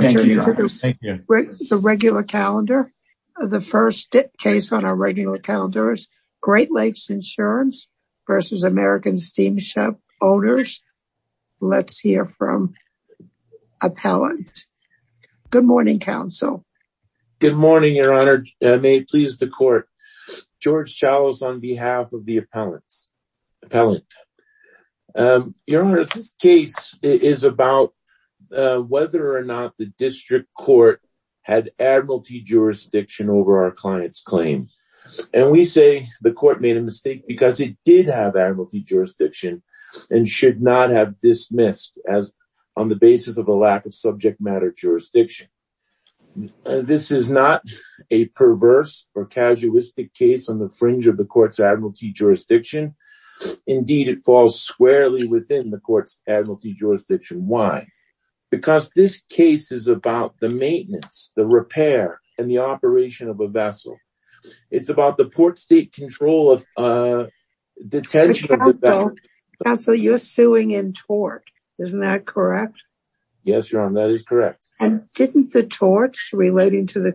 George Chalas on behalf of the appellant. Your Honor, this case is about whether or not the district court had admiralty jurisdiction over our client's claim. And we say the court made a mistake because it did have admiralty jurisdiction and should not have dismissed as on the basis of a lack of subject matter jurisdiction. This is not a perverse or casuistic case on the fringe of the court's admiralty jurisdiction. Indeed, it falls squarely within the case is about the maintenance, the repair, and the operation of a vessel. It's about the port state control of the tension. Counsel, you're suing in tort. Isn't that correct? Yes, Your Honor, that is correct. And didn't the torts relating to the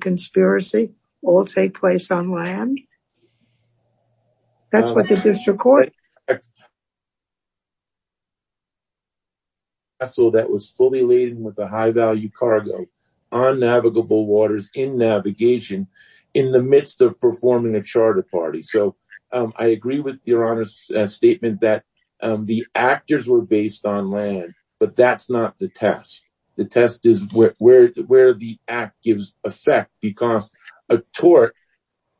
value cargo on navigable waters in navigation in the midst of performing a charter party. So I agree with Your Honor's statement that the actors were based on land, but that's not the test. The test is where the act gives effect because a tort,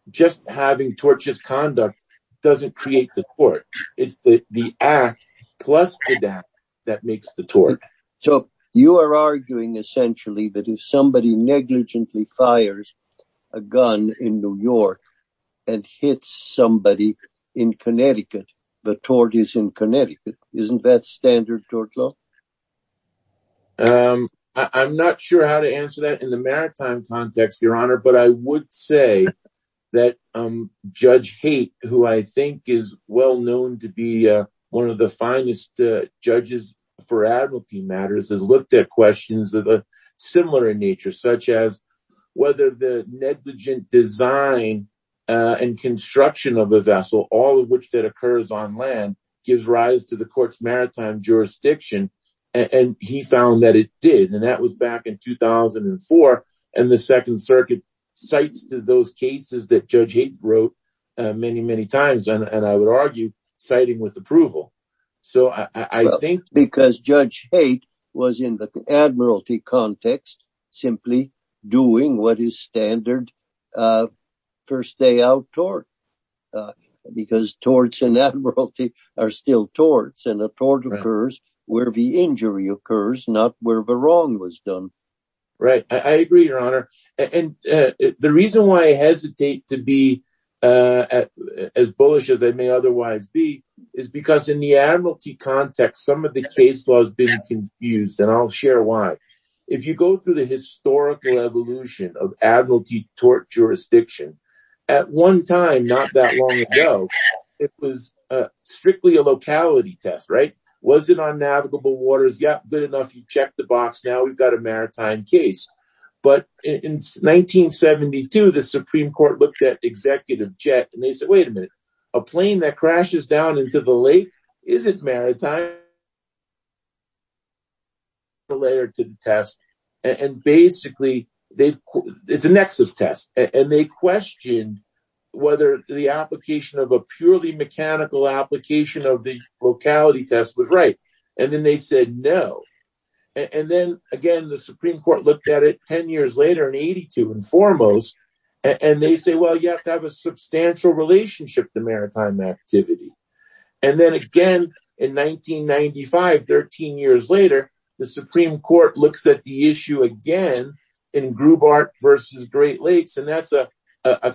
just having torches conduct doesn't create the court. It's the act plus that that makes the tort. So you are arguing essentially that if somebody negligently fires a gun in New York, and hits somebody in Connecticut, the tort is in Connecticut. Isn't that standard tort law? I'm not sure how to answer that in the maritime context, Your Honor. But I would say that Judge Haight, who I think is well known to be one of the finest judges for admiralty matters has looked at questions of a similar nature, such as whether the And he found that it did. And that was back in 2004. And the Second Circuit cites those cases that Judge Haight wrote many, many times, and I would argue, citing with approval. So I think because Judge Haight was in the admiralty context, simply doing what is standard. First day tort. Because torts in admiralty are still torts and a tort occurs where the injury occurs, not where the wrong was done. Right. I agree, Your Honor. And the reason why I hesitate to be as bullish as I may otherwise be, is because in the admiralty context, some of the case laws been confused, and I'll share why. If you go through the historical evolution of admiralty tort jurisdiction, at one time, not that long ago, it was strictly a locality test, right? Was it on navigable waters? Yeah, good enough. You've checked the box. Now we've got a maritime case. But in 1972, the Supreme Court looked at Executive Jett, and they said, Wait a minute, a plane that crashes down into the time layer to the test. And basically, they, it's a nexus test. And they questioned whether the application of a purely mechanical application of the locality test was right. And then they said, No. And then again, the Supreme Court looked at it 10 years later in 82 and foremost, and they say, Well, you have to have a substantial relationship to maritime activity. And then again, in 1995, 13 years later, the Supreme Court looks at the issue again, in Grubart versus Great Lakes, and that's a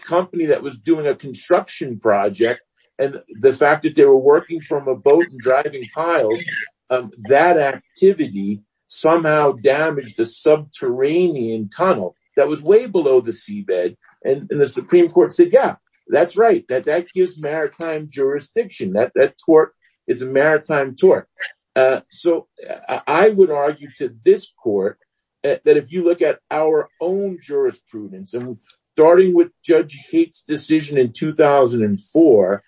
company that was doing a construction project. And the fact that they were working from a boat and driving piles, that activity somehow damaged a subterranean tunnel that was way below the seabed. And the Supreme Court said, Yeah, that's right, that that gives maritime jurisdiction that that tort is a maritime tort. So I would argue to this court, that if you look at our own jurisprudence, and starting with Judge Kate's decision in 2004,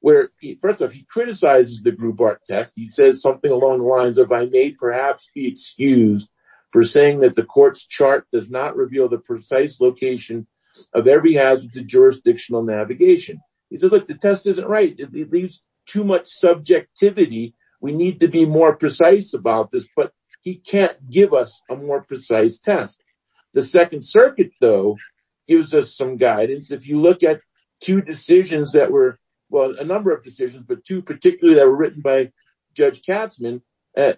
where he first of all, he criticizes the Grubart test, he says something along the lines of I may perhaps be excused for saying that the court's chart does not reveal the precise location of every hazard to jurisdictional navigation. He says like the test isn't right, it leaves too much subjectivity, we need to be more precise about this, but he can't give us a more precise test. The Second Circuit, though, gives us some guidance. If you look at two decisions that were, well, a number of decisions, but two particularly that were written by Judge Katzmann,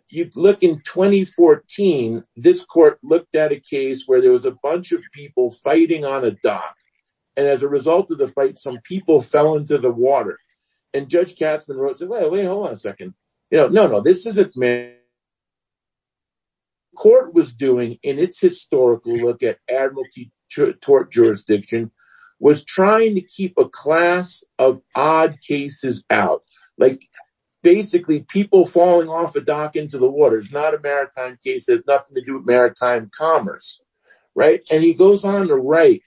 you'd look in 2014, this court looked at a case where there was a bunch of people fighting on a dock. And as a result of the fight, some people fell into the water. What this court was doing in its historical look at admiralty, tort jurisdiction, was trying to keep a class of odd cases out, like, basically people falling off a dock into the water is not a maritime case, it has nothing to do with maritime commerce. Right? And he goes on to write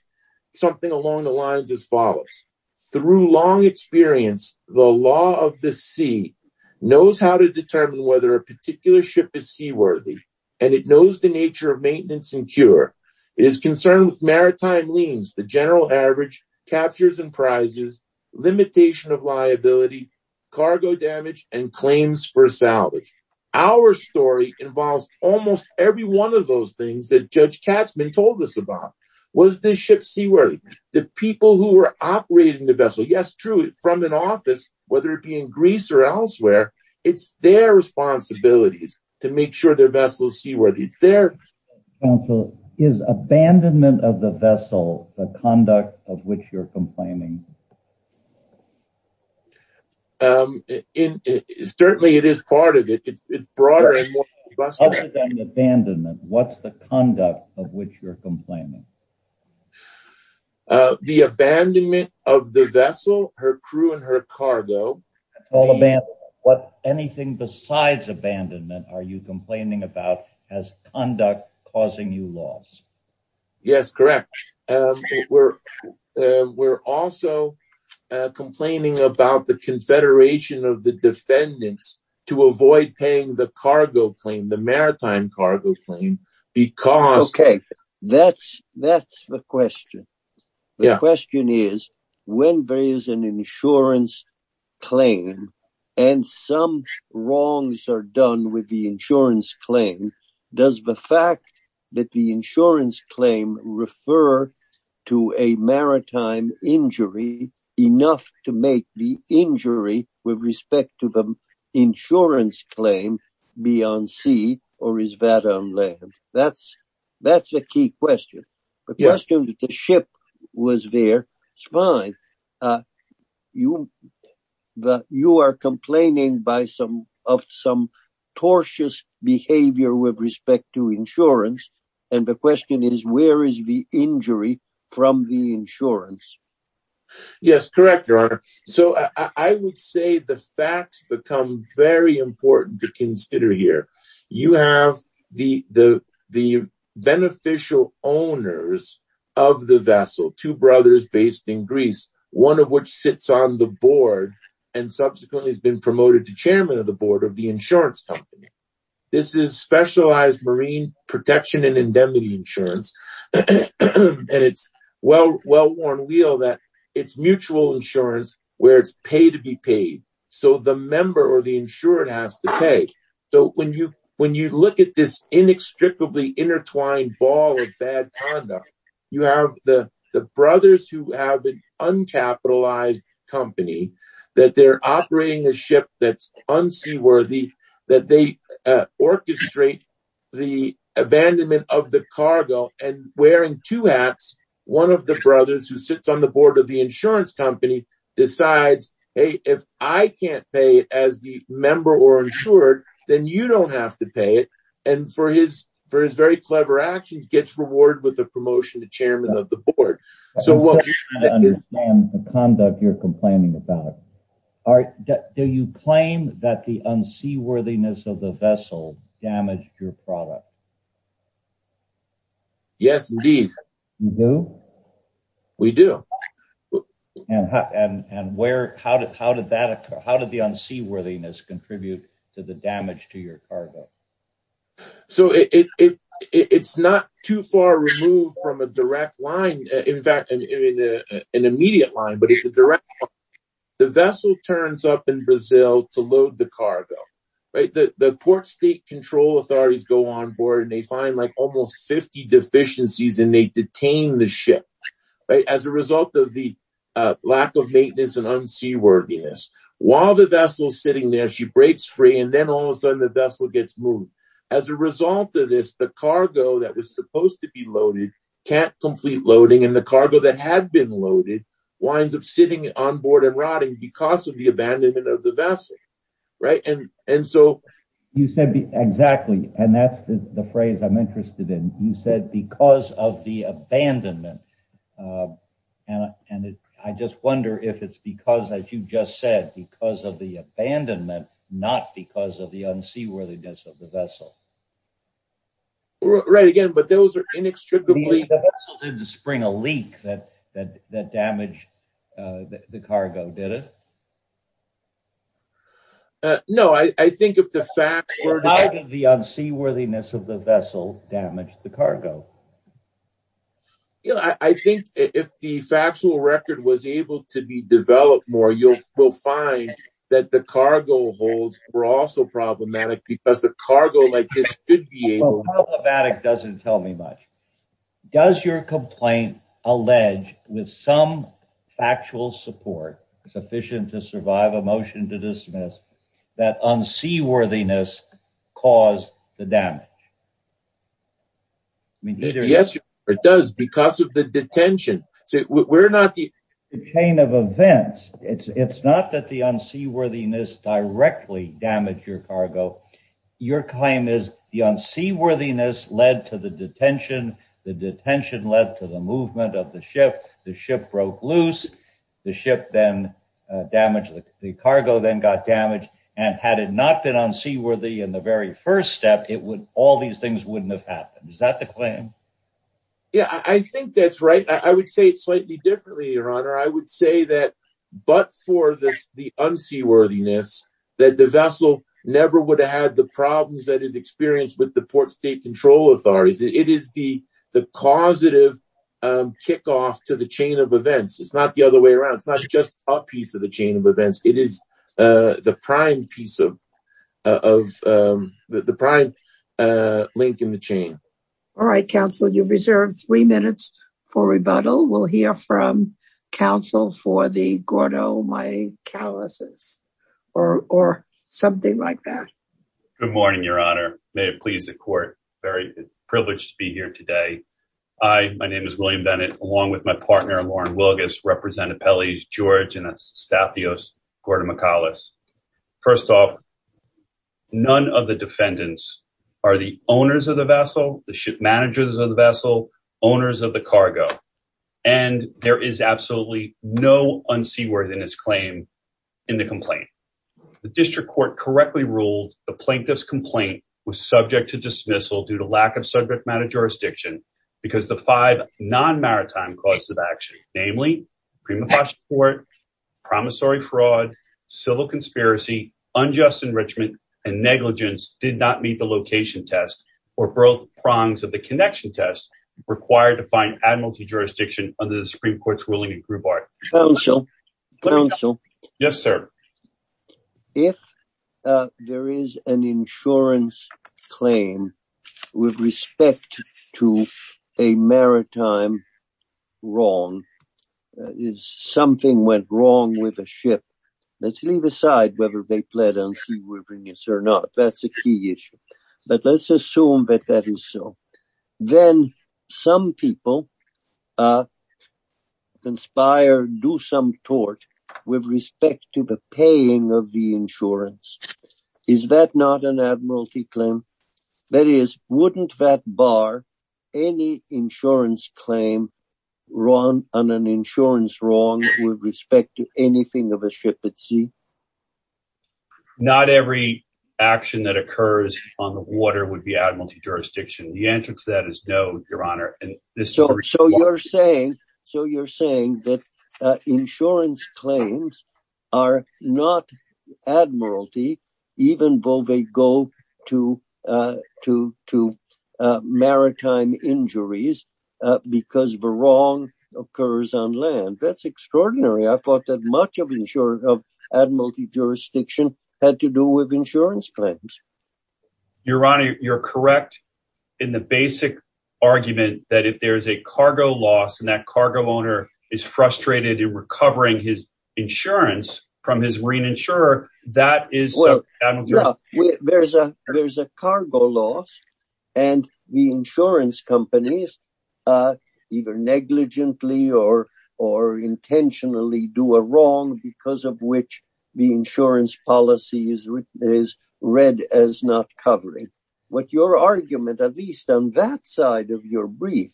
something along the lines as follows. Through long experience, the law of the sea knows how to determine whether a particular ship is seaworthy, and it knows the nature of maintenance and cure. It is concerned with maritime liens, the general average, captures and prizes, limitation of liability, cargo damage, and claims for salvage. Our story involves almost every one of those things that Judge Katzmann told us about. Was this ship seaworthy? The people who were operating the vessel, yes, true, from an office, whether it be in Greece or elsewhere, it's there responsibilities to make sure their vessel is seaworthy. Is abandonment of the vessel the conduct of which you're complaining? Certainly it is part of it, it's broader. Other than abandonment, what's the conduct of which you're complaining? The abandonment of the vessel, her crew and her cargo. What anything besides abandonment are you complaining about as conduct causing you loss? Yes, correct. We're also complaining about the confederation of the defendants to avoid paying the cargo claim, the maritime cargo claim, because... Okay, that's the question. The question is when there is an insurance claim and some wrongs are done with the insurance claim, does the fact that the insurance claim refer to a maritime injury enough to make the injury with respect to the insurance claim be on sea or is that on land? That's the key question. The question is if the ship was there, it's fine. You are complaining of some tortious behavior with respect to insurance, and the question is where is the injury from the insurance? Yes, correct, your honor. So I would say the facts become very important to consider here. You have the beneficial owners of the vessel, two brothers based in Greece, one of which sits on the board and subsequently has been promoted to chairman of the board of the insurance company. This is specialized marine protection and indemnity insurance, and it's well worn wheel that it's mutual insurance where it's pay to be paid. So the when you look at this inextricably intertwined ball of bad conduct, you have the brothers who have an uncapitalized company, that they're operating a ship that's unseaworthy, that they orchestrate the abandonment of the cargo and wearing two hats, one of the brothers who sits on the board of the insurance company decides, hey, if I can't pay as the member or insured, then you don't have to pay it, and for his for his very clever actions gets reward with a promotion to chairman of the board. So what is the conduct you're complaining about? Do you claim that the unseaworthiness of the vessel damaged your product? Yes, indeed. You do? We do. And how did the unseaworthiness contribute to the damage to your cargo? So it's not too far removed from a direct line. In fact, an immediate line, but it's a direct. The vessel turns up in Brazil to load the cargo, right? The port state control authorities go on board and they find like almost 50 deficiencies and they detain the ship as a result of the lack of maintenance and unseaworthiness. While the vessel is sitting there, she breaks free and then all of a sudden the vessel gets moved. As a result of this, the cargo that was supposed to be loaded, can't complete loading and the cargo that had been loaded winds up sitting on board and rotting because of the abandonment of the vessel, right? And so you said exactly, and that's the phrase I'm interested in. You said because of the abandonment. And I just wonder if it's because, as you just said, because of the abandonment, not because of the unseaworthiness of the vessel. Right again, but those are inextricably... The vessel didn't spring a leak that damaged the cargo, did it? No, I think if the facts were... The unseaworthiness of the vessel damaged the cargo. I think if the factual record was able to be developed more, you'll find that the cargo holes were also problematic because the cargo like this should be able... Well, problematic doesn't tell me much. Does your complaint allege with some the damage? Yes, it does because of the detention. We're not the chain of events. It's not that the unseaworthiness directly damaged your cargo. Your claim is the unseaworthiness led to the detention. The detention led to the movement of the ship. The ship broke loose. The ship then damaged. The cargo then got damaged. Had it not been unseaworthy in the very first step, all these things wouldn't have happened. Is that the claim? Yeah, I think that's right. I would say it slightly differently, Your Honor. I would say but for the unseaworthiness that the vessel never would have had the problems that it experienced with the Port State Control Authorities. It is the causative kickoff to the chain of events. It's not the other way around. It's not just a piece of the chain of events. It is the prime piece of the prime link in the chain. All right, counsel. You've reserved three minutes for rebuttal. We'll hear from counsel for the Gordo Mycalysis or something like that. Good morning, Your Honor. May it please the court. Very privileged to be here today. Hi, my name is William Bennett along with my partner, Lauren Wilgus, Representative Pelley, George, and Estathios Gordo Mycalis. First off, none of the defendants are the owners of the vessel, the ship managers of the vessel, owners of the cargo, and there is absolutely no unseaworthiness claim in the complaint. The district court correctly ruled the plaintiff's complaint was subject to dismissal due to lack of subject matter jurisdiction because the five non-maritime causes of action, namely prima facie court, promissory fraud, civil conspiracy, unjust enrichment, and negligence did not meet the location test or both prongs of the connection test required to find admiralty jurisdiction under the Supreme Court's ruling in Grubart. Counsel, counsel. Yes, sir. If there is an to a maritime wrong, is something went wrong with a ship, let's leave aside whether they pled unseaworthiness or not. That's a key issue. But let's assume that that is so. Then some people conspire, do some tort with respect to the paying of the insurance. Is that not an admiralty claim? That is, wouldn't that bar any insurance claim on an insurance wrong with respect to anything of a ship at sea? Not every action that occurs on the water would be admiralty jurisdiction. The answer to that is no, even though they go to maritime injuries because of a wrong occurs on land. That's extraordinary. I thought that much of admiralty jurisdiction had to do with insurance claims. Your Honor, you're correct in the basic argument that if there is a cargo loss and that cargo owner is frustrated in recovering his insurance from his marine insurer, that is... There's a cargo loss and the insurance companies either negligently or intentionally do a wrong because of which the insurance policy is read as not covering. What your argument, at least on that side of your brief,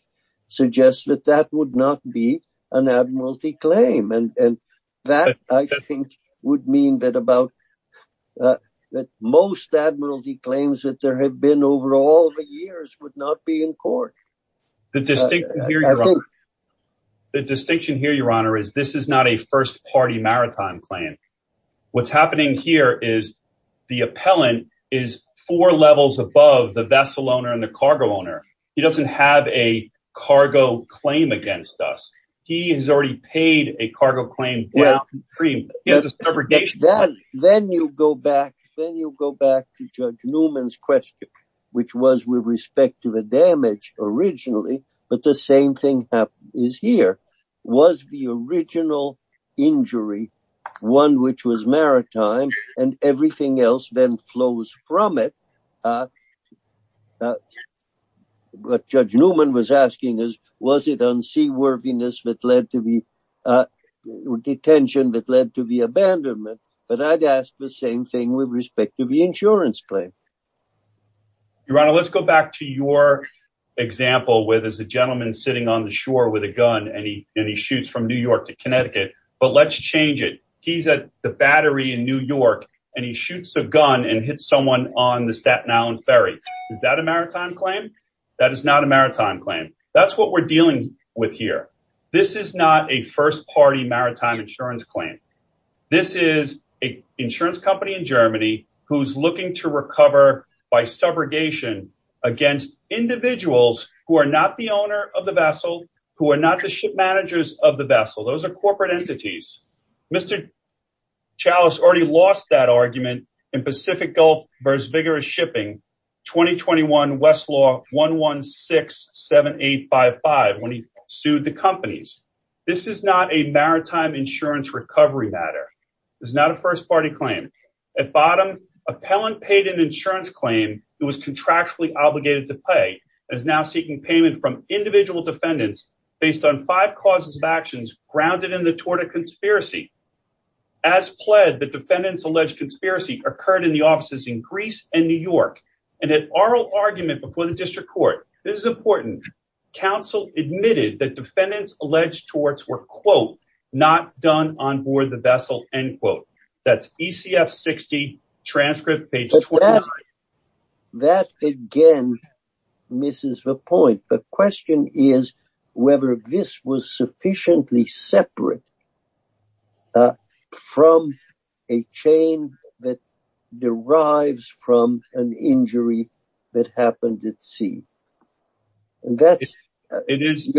suggests that that would not be an admiralty claim. That, I think, would mean that most admiralty claims that there have been over all the years would not be in court. The distinction here, Your Honor, is this is not a first party maritime plan. What's happening here is the appellant is four levels above the vessel owner and the cargo owner. He doesn't have a cargo claim against us. He has already paid a cargo claim downstream. Then you go back to Judge Newman's question, which was with respect to the damage originally, but the same thing is here. Was the original injury one which was maritime and everything else then flows from it? What Judge Newman was asking is, was it unseaworthiness that led to the detention that led to the abandonment? I'd ask the same thing with respect to the insurance claim. Your Honor, let's go back to your example where there's a gentleman sitting on the shore with a gun and he shoots from New York to Connecticut, but let's change it. He's at the Battery in New York and he shoots a gun and hits someone on the Staten Island Ferry. Is that a maritime claim? That is not a maritime claim. That's what we're dealing with here. This is not a first party maritime insurance claim. This is an insurance company in Germany who's looking to recover by subrogation against individuals who are not the owner of the vessel, who are not the ship managers of the vessel. Those are corporate entities. Mr. Chalice already lost that argument in Pacific Gulf versus vigorous shipping 2021 Westlaw 1167855 when he sued the companies. This is not a maritime insurance recovery matter. It's not a first party claim. At bottom, appellant paid an insurance claim who was contractually obligated to pay and is now seeking payment from individual defendants based on five causes of actions grounded in the Torda conspiracy. As pled, the defendants alleged conspiracy occurred in the offices in Greece and New York and had oral argument before the district court. This is important. Council admitted that defendants alleged torts were, quote, not done on board the vessel, end quote. That's ECF 60 transcript page 29. That again misses the point. The question is whether this was sufficiently separate from a chain that derives from an injury that happened at sea. And that's it is.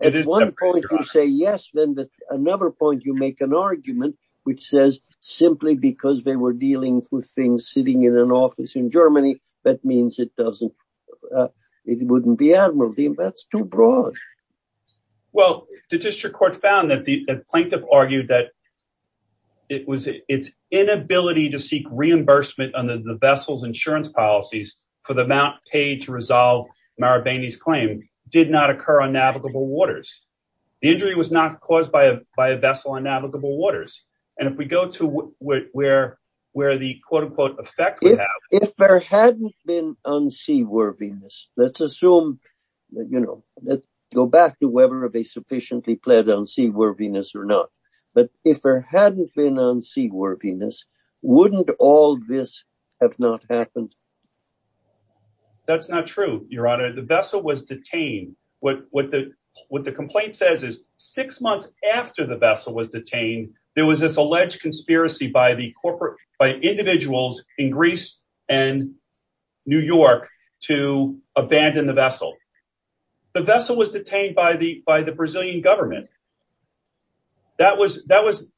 At one point, you say yes. Then another point, you make an argument which says simply because they were dealing with things sitting in an office in Germany, that means it doesn't. It wouldn't be admiralty. That's too broad. Well, the district court found that the plaintiff argued that it was its inability to seek reimbursement on the vessel's insurance policies for the amount paid to resolve Marabini's claim did not occur on navigable waters. The injury was not caused by a vessel on navigable waters. And if we go to where the quote, unquote, effect would have. If there hadn't been unseaworthiness, let's assume, you know, let's go back to whether they sufficiently pled unseaworthiness or not. But if there hadn't been unseaworthiness, wouldn't all this have not happened? That's not true, your honor. The vessel was detained. What the complaint says is six months after the vessel was detained, there was this alleged conspiracy by the corporate by individuals in Greece and New York to abandon the vessel. The vessel was detained by the Brazilian government. That was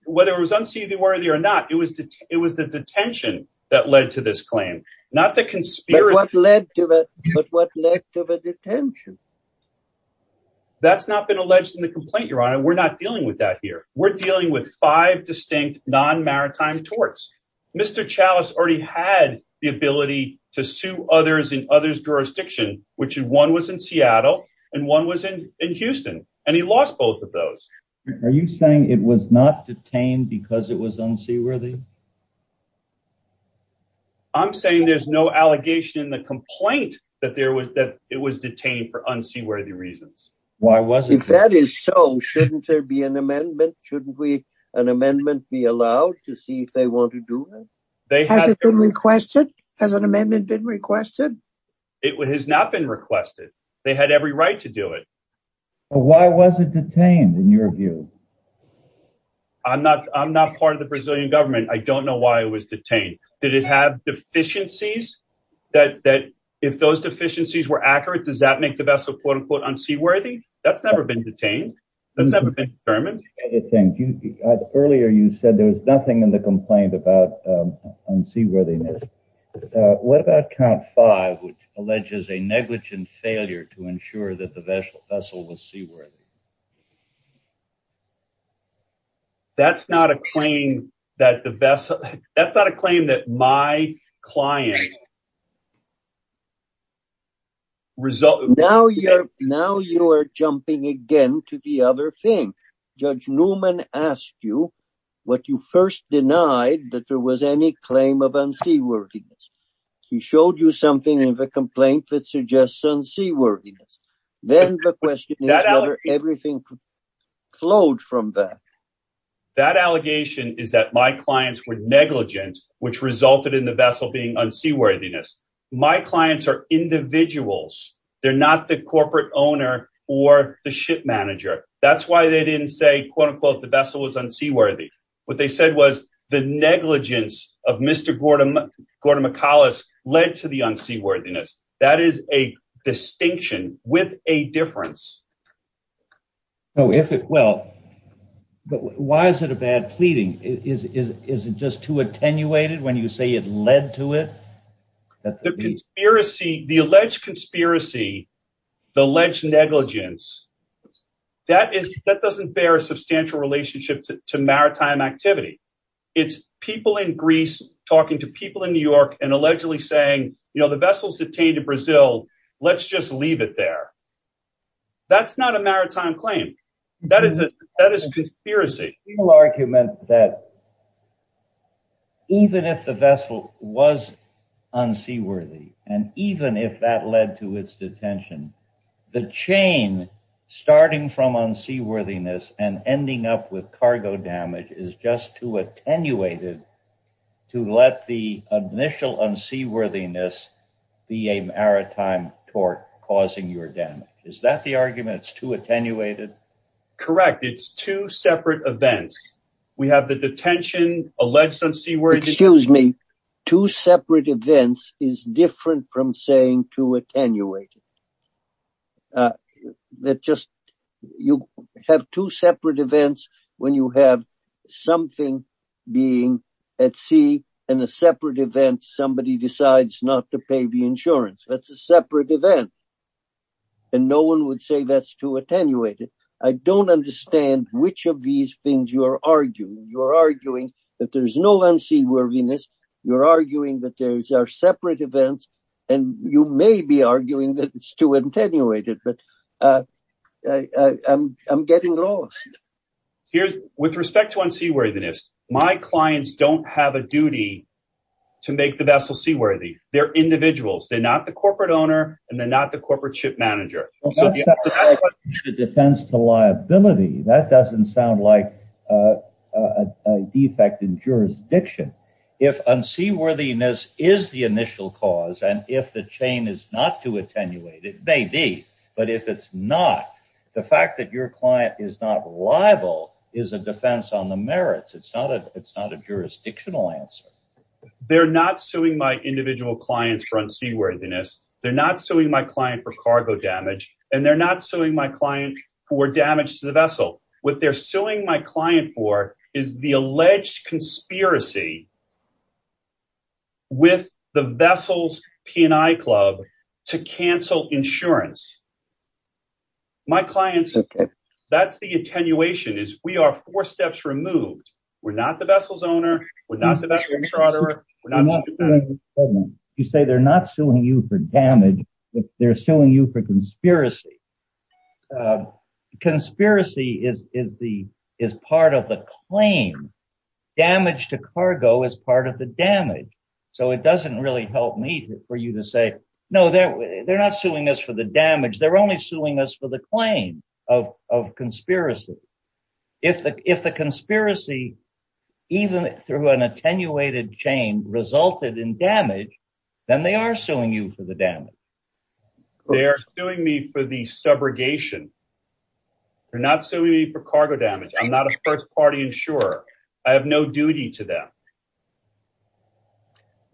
whether it was unseaworthy or not. It was it was the detention that led to this claim, not the conspiracy led to it. But what led to the detention? That's not been alleged in the complaint, your honor. We're not dealing with that here. We're dealing with five distinct non-maritime torts. Mr. Chalice already had the ability to sue others in others jurisdiction, which one was in Seattle and one was in Houston. And he lost both of those. Are you saying it was not detained because it was unseaworthy? I'm saying there's no allegation in the complaint that there was that it was detained for unseaworthy reasons. Why was it? If that is so, shouldn't there be an amendment? Shouldn't we an amendment be allowed to see if they want to do it? Has it been requested? Has an amendment been requested? It has not been requested. They had every right to do it. But why was it detained in your view? I'm not I'm not part of the Brazilian government. I don't know why it was detained. Did it have deficiencies that that if those deficiencies were accurate, does that make the vessel, quote unquote, unseaworthy? That's never been detained. That's never been determined. Earlier, you said there was nothing in the complaint about unseaworthiness. What about count five, which alleges a negligent failure to ensure that the vessel was seaworthy? That's not a claim that the vessel, that's not a claim that my client. Now you're jumping again to the other thing. Judge Newman asked you what you first denied, that there was any claim of unseaworthiness. He showed you something in the complaint that flowed from that. That allegation is that my clients were negligent, which resulted in the vessel being unseaworthiness. My clients are individuals. They're not the corporate owner or the ship manager. That's why they didn't say, quote unquote, the vessel was unseaworthy. What they said was the negligence of Mr. Gordon, Gordon McAuliffe led to the unseaworthiness. That is a distinction with a difference. Why is it a bad pleading? Is it just too attenuated when you say it led to it? The alleged conspiracy, the alleged negligence, that doesn't bear a substantial relationship to maritime activity. It's people in Greece talking to people in New York and allegedly saying, the vessel's detained in Brazil, let's just leave it there. That's not a maritime claim. That is a conspiracy. People argument that even if the vessel was unseaworthy, and even if that led to its detention, the chain starting from unseaworthiness and ending up with cargo damage is just too attenuated to let the initial unseaworthiness be a maritime tort causing your damage. Is that the argument? It's too attenuated? Correct. It's two separate events. We have the detention alleged unseaworthiness. Excuse me. Two separate events is different from saying too attenuated. You have two separate events when you have something being at sea and a separate event, somebody decides not to pay the insurance. That's a separate event. No one would say that's too attenuated. I don't understand which of these things you're arguing. You're arguing that there's no unseaworthiness. You're arguing that these are separate events, and you may be arguing that it's too attenuated, but I'm getting lost. With respect to unseaworthiness, my clients don't have a duty to make the vessel seaworthy. They're individuals. They're not the corporate owner, and they're not the corporate ship manager. That's not a defense to liability. That doesn't sound like a defect in jurisdiction. If unseaworthiness is the initial cause, and if the chain is not too attenuated, it may be, but if it's not, the fact that your client is not liable is a defense on the merits. It's not a jurisdictional answer. They're not suing my individual clients for unseaworthiness. They're suing my client for cargo damage, and they're not suing my client for damage to the vessel. What they're suing my client for is the alleged conspiracy with the vessel's P&I club to cancel insurance. That's the attenuation. We are four steps removed. We're not the vessel's owner. We're not suing you for damage. They're suing you for conspiracy. Conspiracy is part of the claim. Damage to cargo is part of the damage. It doesn't really help me for you to say, no, they're not suing us for the damage. They're only suing us for the claim of conspiracy. If the conspiracy, even through an attenuated chain, resulted in damage, then they are suing you for the damage. They are suing me for the subrogation. They're not suing me for cargo damage. I'm not a first-party insurer. I have no duty to them.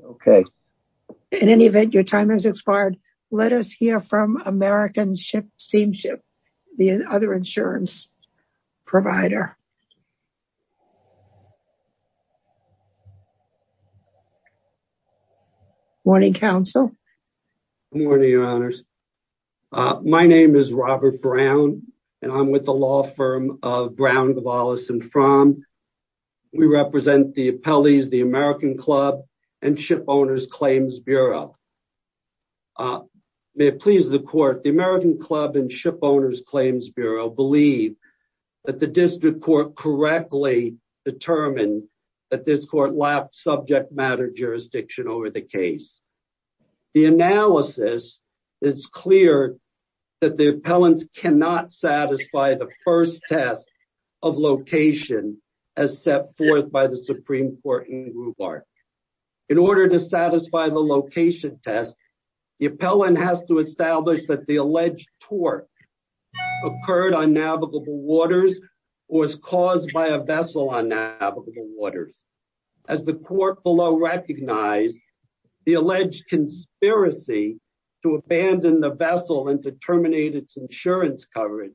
Okay. In any event, your time has expired. Let us hear from American Steamship, the other insurance provider. Morning, counsel. Morning, your honors. My name is Robert Brown, and I'm with the law firm of Brown, Gavalis, and Fromm. We represent the appellees, the American Club, and Ship Owners Claims Bureau. We believe that the district court correctly determined that this court lapsed subject matter jurisdiction over the case. The analysis is clear that the appellants cannot satisfy the first test of location as set forth by the Supreme Court in Gruber. In order to satisfy the location test, the appellant has to establish that the alleged torque occurred on navigable waters or was caused by a vessel on navigable waters. As the court below recognized, the alleged conspiracy to abandon the vessel and to terminate its insurance coverage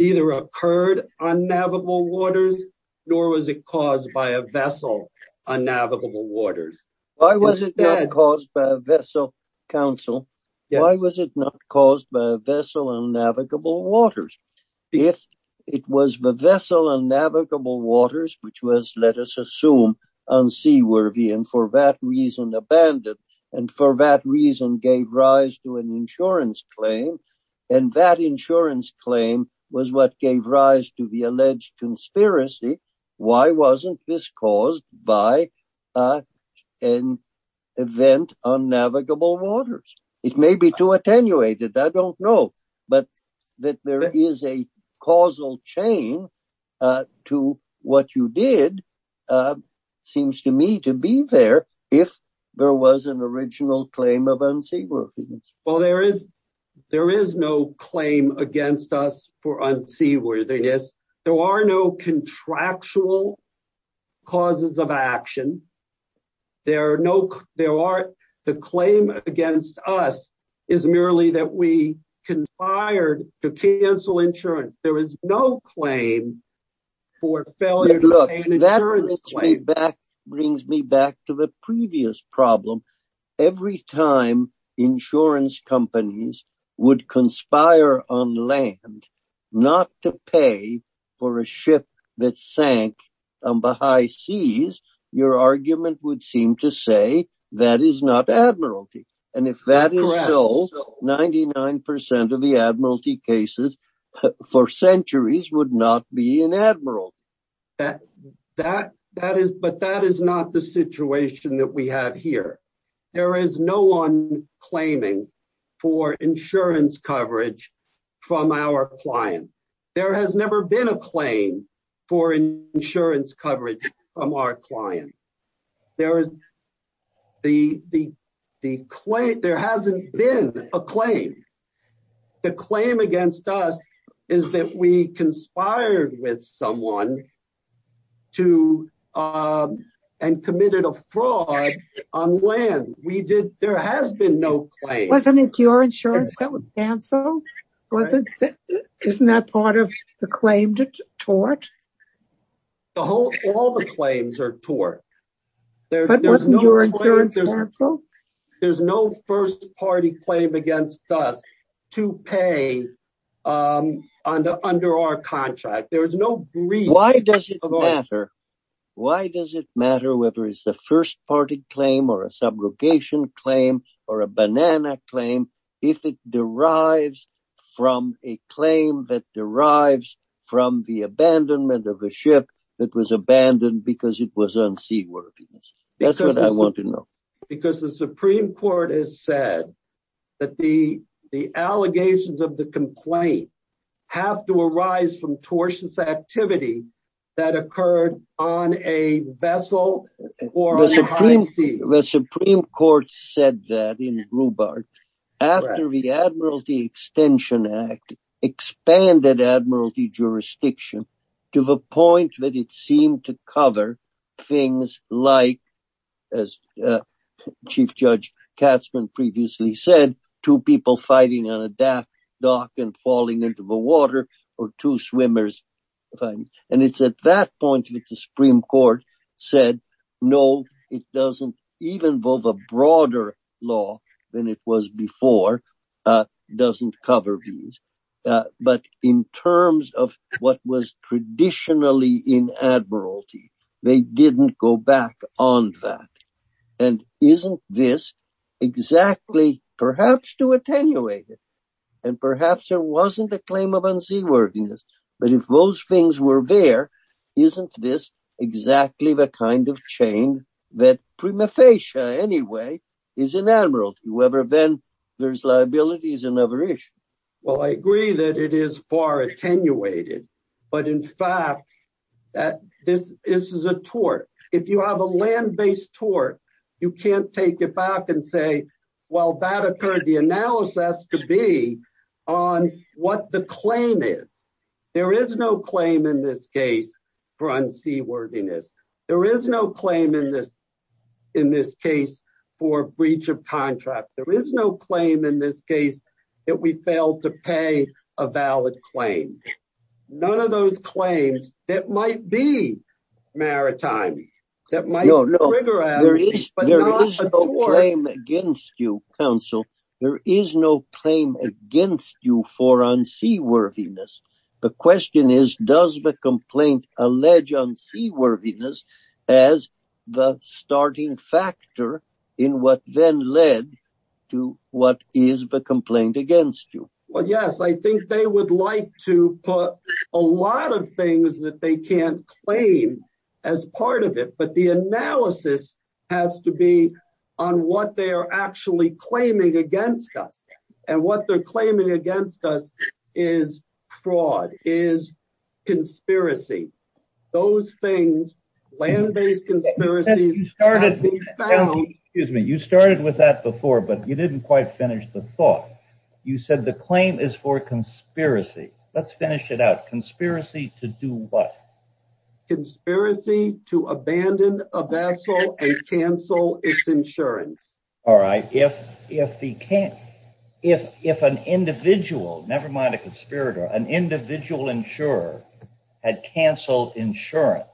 either occurred on navigable waters, nor was it caused by a vessel on navigable waters. Why was it not caused by a vessel, counsel? Why was it not caused by a vessel on navigable waters? If it was the vessel on navigable waters, which was, let us assume, unseaworthy, and for that reason abandoned, and for that reason gave rise to an insurance claim, and that insurance claim was what gave rise to the alleged conspiracy, why wasn't this caused by an event on navigable waters? It may be too attenuated, I don't know, but that there is a causal chain to what you did seems to me to be there if there was an original claim of unseaworthiness. Well, there is no claim against us for unseaworthiness. There are no contractual causes of action. The claim against us is merely that we conspired to cancel insurance. There is no claim for failure to pay an insurance claim. That brings me back to the previous problem. Every time insurance companies would conspire on land not to pay for a ship that sank on the high seas, your argument would seem to say that is not admiralty, and if that is so, 99% of the would not be an admiral. But that is not the situation that we have here. There is no one claiming for insurance coverage from our client. There has never been a claim for insurance coverage from our client. There hasn't been a claim. The claim against us is that we conspired with someone and committed a fraud on land. There has been no claim. Wasn't it your insurance that was cancelled? Isn't that part of the claim tort? All the claims are tort. There's no first party claim against us to pay under our contract. Why does it matter whether it's a first party claim or a subrogation claim or a banana claim if it derives from a claim that derives from the abandonment of a ship that was abandoned because it was on seaworthiness? That's what I want to know. Because the Supreme Court has said that the allegations of the complaint have to arise from a vessel. The Supreme Court said that in Rhubart after the Admiralty Extension Act expanded Admiralty jurisdiction to the point that it seemed to cover things like, as Chief Judge Katzman previously said, two people fighting on a dock and falling into the water or two swimmers. And it's at that point that the Supreme Court said, no, it doesn't even involve a broader law than it was before, doesn't cover views. But in terms of what was traditionally in Admiralty, they didn't go back on that. And isn't this exactly perhaps to attenuate it? Perhaps there wasn't a claim of unseaworthiness, but if those things were there, isn't this exactly the kind of chain that prima facie anyway is in Admiralty? Whether then there's liabilities is another issue. Well, I agree that it is far attenuated, but in fact, this is a tort. If you have a land-based tort, you can't take it back and say, well, that occurred. The analysis has to be on what the claim is. There is no claim in this case for unseaworthiness. There is no claim in this case for breach of contract. There is no claim in this case that we failed to pay a valid claim. None of those claims that might be maritime, that might trigger at me, but not a tort. No, no. There is no claim against you, counsel. There is no claim against you for unseaworthiness. The question is, does the complaint allege unseaworthiness as the starting factor in what then led to what is the complaint against you? Well, yes. I think they would like to put a lot of things that they can't claim as part of it, but the analysis has to be on what they are actually claiming against us, and what they're claiming against us is fraud, is conspiracy. Those things, land-based conspiracies have been found. You started with that before, but you didn't quite finish the thought. You said the claim is for conspiracy. Let's finish it out. Conspiracy to do what? Conspiracy to abandon a vessel and cancel its insurance. All right. If an individual, never mind a conspirator, an individual insurer had canceled insurance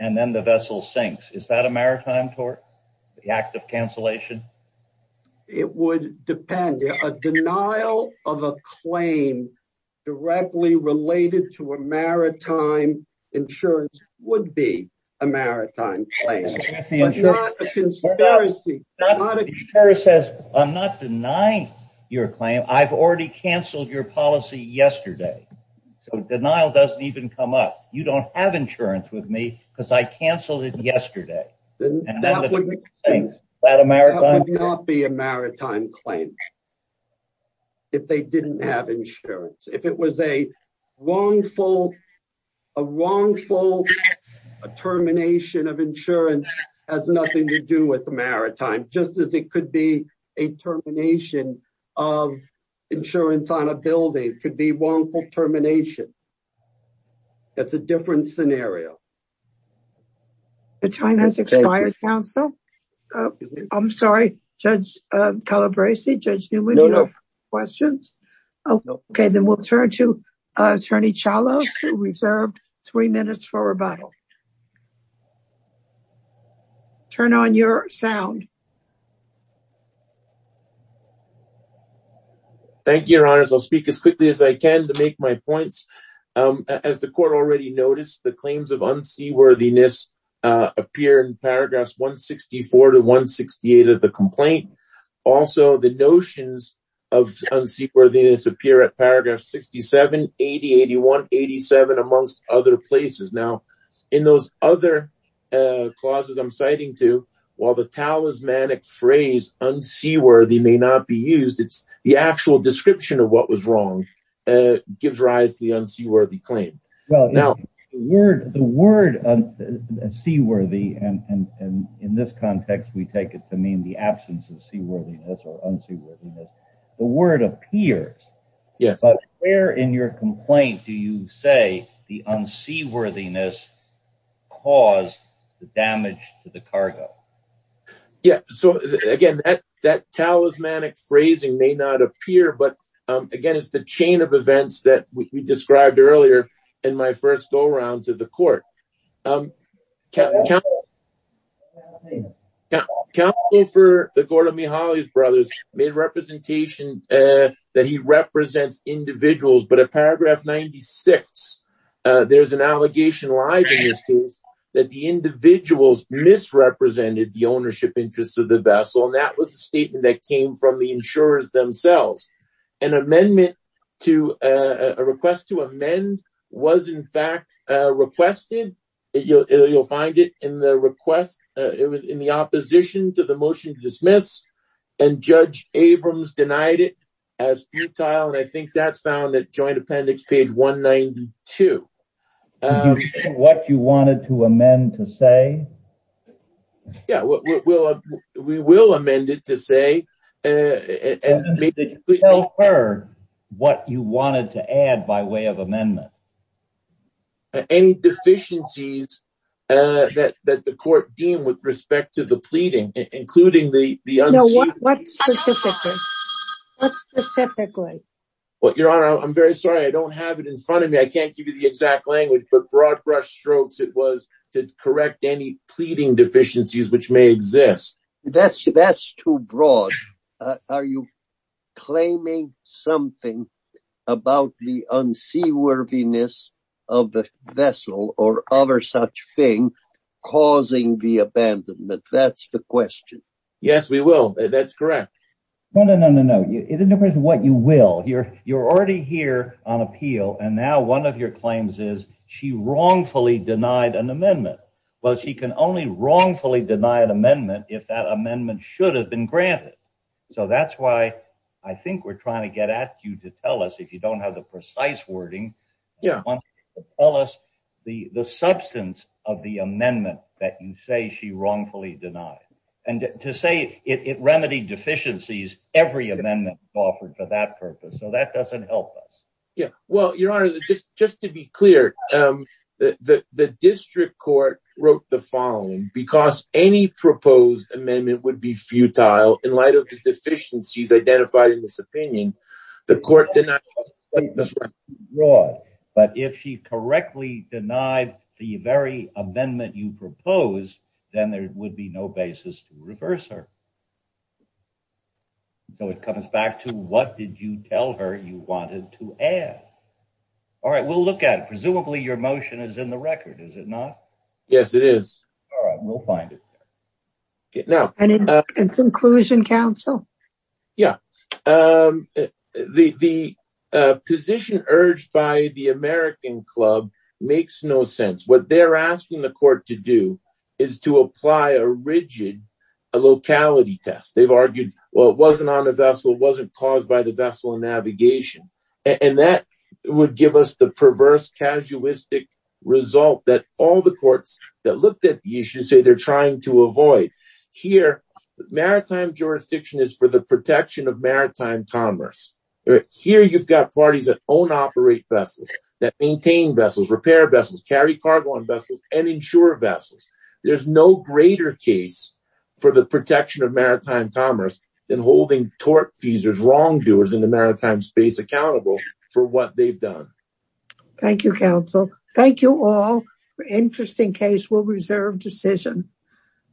and then the vessel sinks, is that a maritime tort, the act of cancellation? It would depend. A denial of a claim directly related to a maritime insurance would be a maritime claim, but not a conspiracy. I'm not denying your claim. I've already canceled your policy yesterday, so denial doesn't even come up. You don't have insurance with me because I canceled it yesterday. That would not be a maritime claim if they didn't have insurance. If it was a wrongful termination of insurance has nothing to do with the maritime, just as it could be a termination of insurance on a building could be wrongful termination. That's a different scenario. The time has expired, counsel. I'm sorry, Judge Calabresi, Judge Newman, do you have questions? Okay, then we'll turn to Attorney Chalos, who reserved three minutes for rebuttal. Turn on your sound. Thank you, Your Honors. I'll speak as quickly as I can to make my points. As the court already noticed, the claims of unseaworthiness appear in paragraphs 164 to 168 of the complaint. Also, the notions of unseaworthiness appear at paragraph 67, 80, 81, 87, amongst other places. Now, in those other clauses I'm citing to, while the talismanic phrase unseaworthy may not be used, the actual description of what was wrong gives rise to the unseaworthy claim. The word unseaworthy, and in this context we take it to mean the absence of seaworthiness or unseaworthiness, the word appears, but where in your complaint do you say the unseaworthiness caused the damage to the cargo? Again, that is the chain of events that we described earlier in my first go-round to the court. Counsel for the Gorda Mihaly brothers made representation that he represents individuals, but at paragraph 96, there's an allegation that the individuals misrepresented the ownership interests of the vessel, and that was a statement that came from the insurers themselves. An amendment to a request to amend was in fact requested. You'll find it in the request, in the opposition to the motion to dismiss, and Judge Abrams denied it as futile, and I think that's found at joint appendix page 192. What you wanted to amend to say? Yeah, we will amend it to say and maybe tell her what you wanted to add by way of amendment. Any deficiencies that the court deemed with respect to the pleading, including the the unseaworthiness. What specifically? Well, Your Honor, I'm very sorry, I don't have it in front of me. I can't give you the exact language, but broad brush strokes it was to correct any pleading deficiencies which may exist. That's too broad. Are you claiming something about the unseaworthiness of the vessel or other such thing causing the abandonment? That's the question. Yes, we will. That's correct. No, no, no, no, no. It doesn't matter what you will. You're already here on appeal, and now one of your claims is she wrongfully denied an amendment. Well, she can only wrongfully deny an amendment if that amendment should have been granted. So that's why I think we're trying to get at you to tell us if you don't have the precise wording. Yeah. Tell us the the substance of the amendment that you say she wrongfully denied and to say it remedied deficiencies. Every amendment offered for that purpose. So that doesn't help us. Well, Your Honor, just to be clear, the district court wrote the following, because any proposed amendment would be futile in light of the deficiencies identified in this opinion, the court denied. But if she correctly denied the very amendment you proposed, then there would be no basis to reverse her. So it comes back to what did you tell her you wanted to add? All right, we'll look at it. Presumably, your motion is in the record, is it not? Yes, it is. All right, we'll find it. In conclusion, counsel? Yeah. The position urged by the American Club makes no sense. What they're asking the court to do is to apply a rigid locality test. They've argued, well, it wasn't on a vessel, it wasn't caused by the vessel navigation. And that would give us the perverse, casuistic result that all the courts that looked at the issue say they're trying to avoid. Here, maritime jurisdiction is for the protection of maritime commerce. Here, you've got parties that own, operate vessels, that maintain vessels, repair vessels, carry cargo on vessels, and insure vessels. There's no greater case for protection of maritime commerce than holding tortfeasors, wrongdoers in the maritime space accountable for what they've done. Thank you, counsel. Thank you all. Interesting case. We'll reserve decision.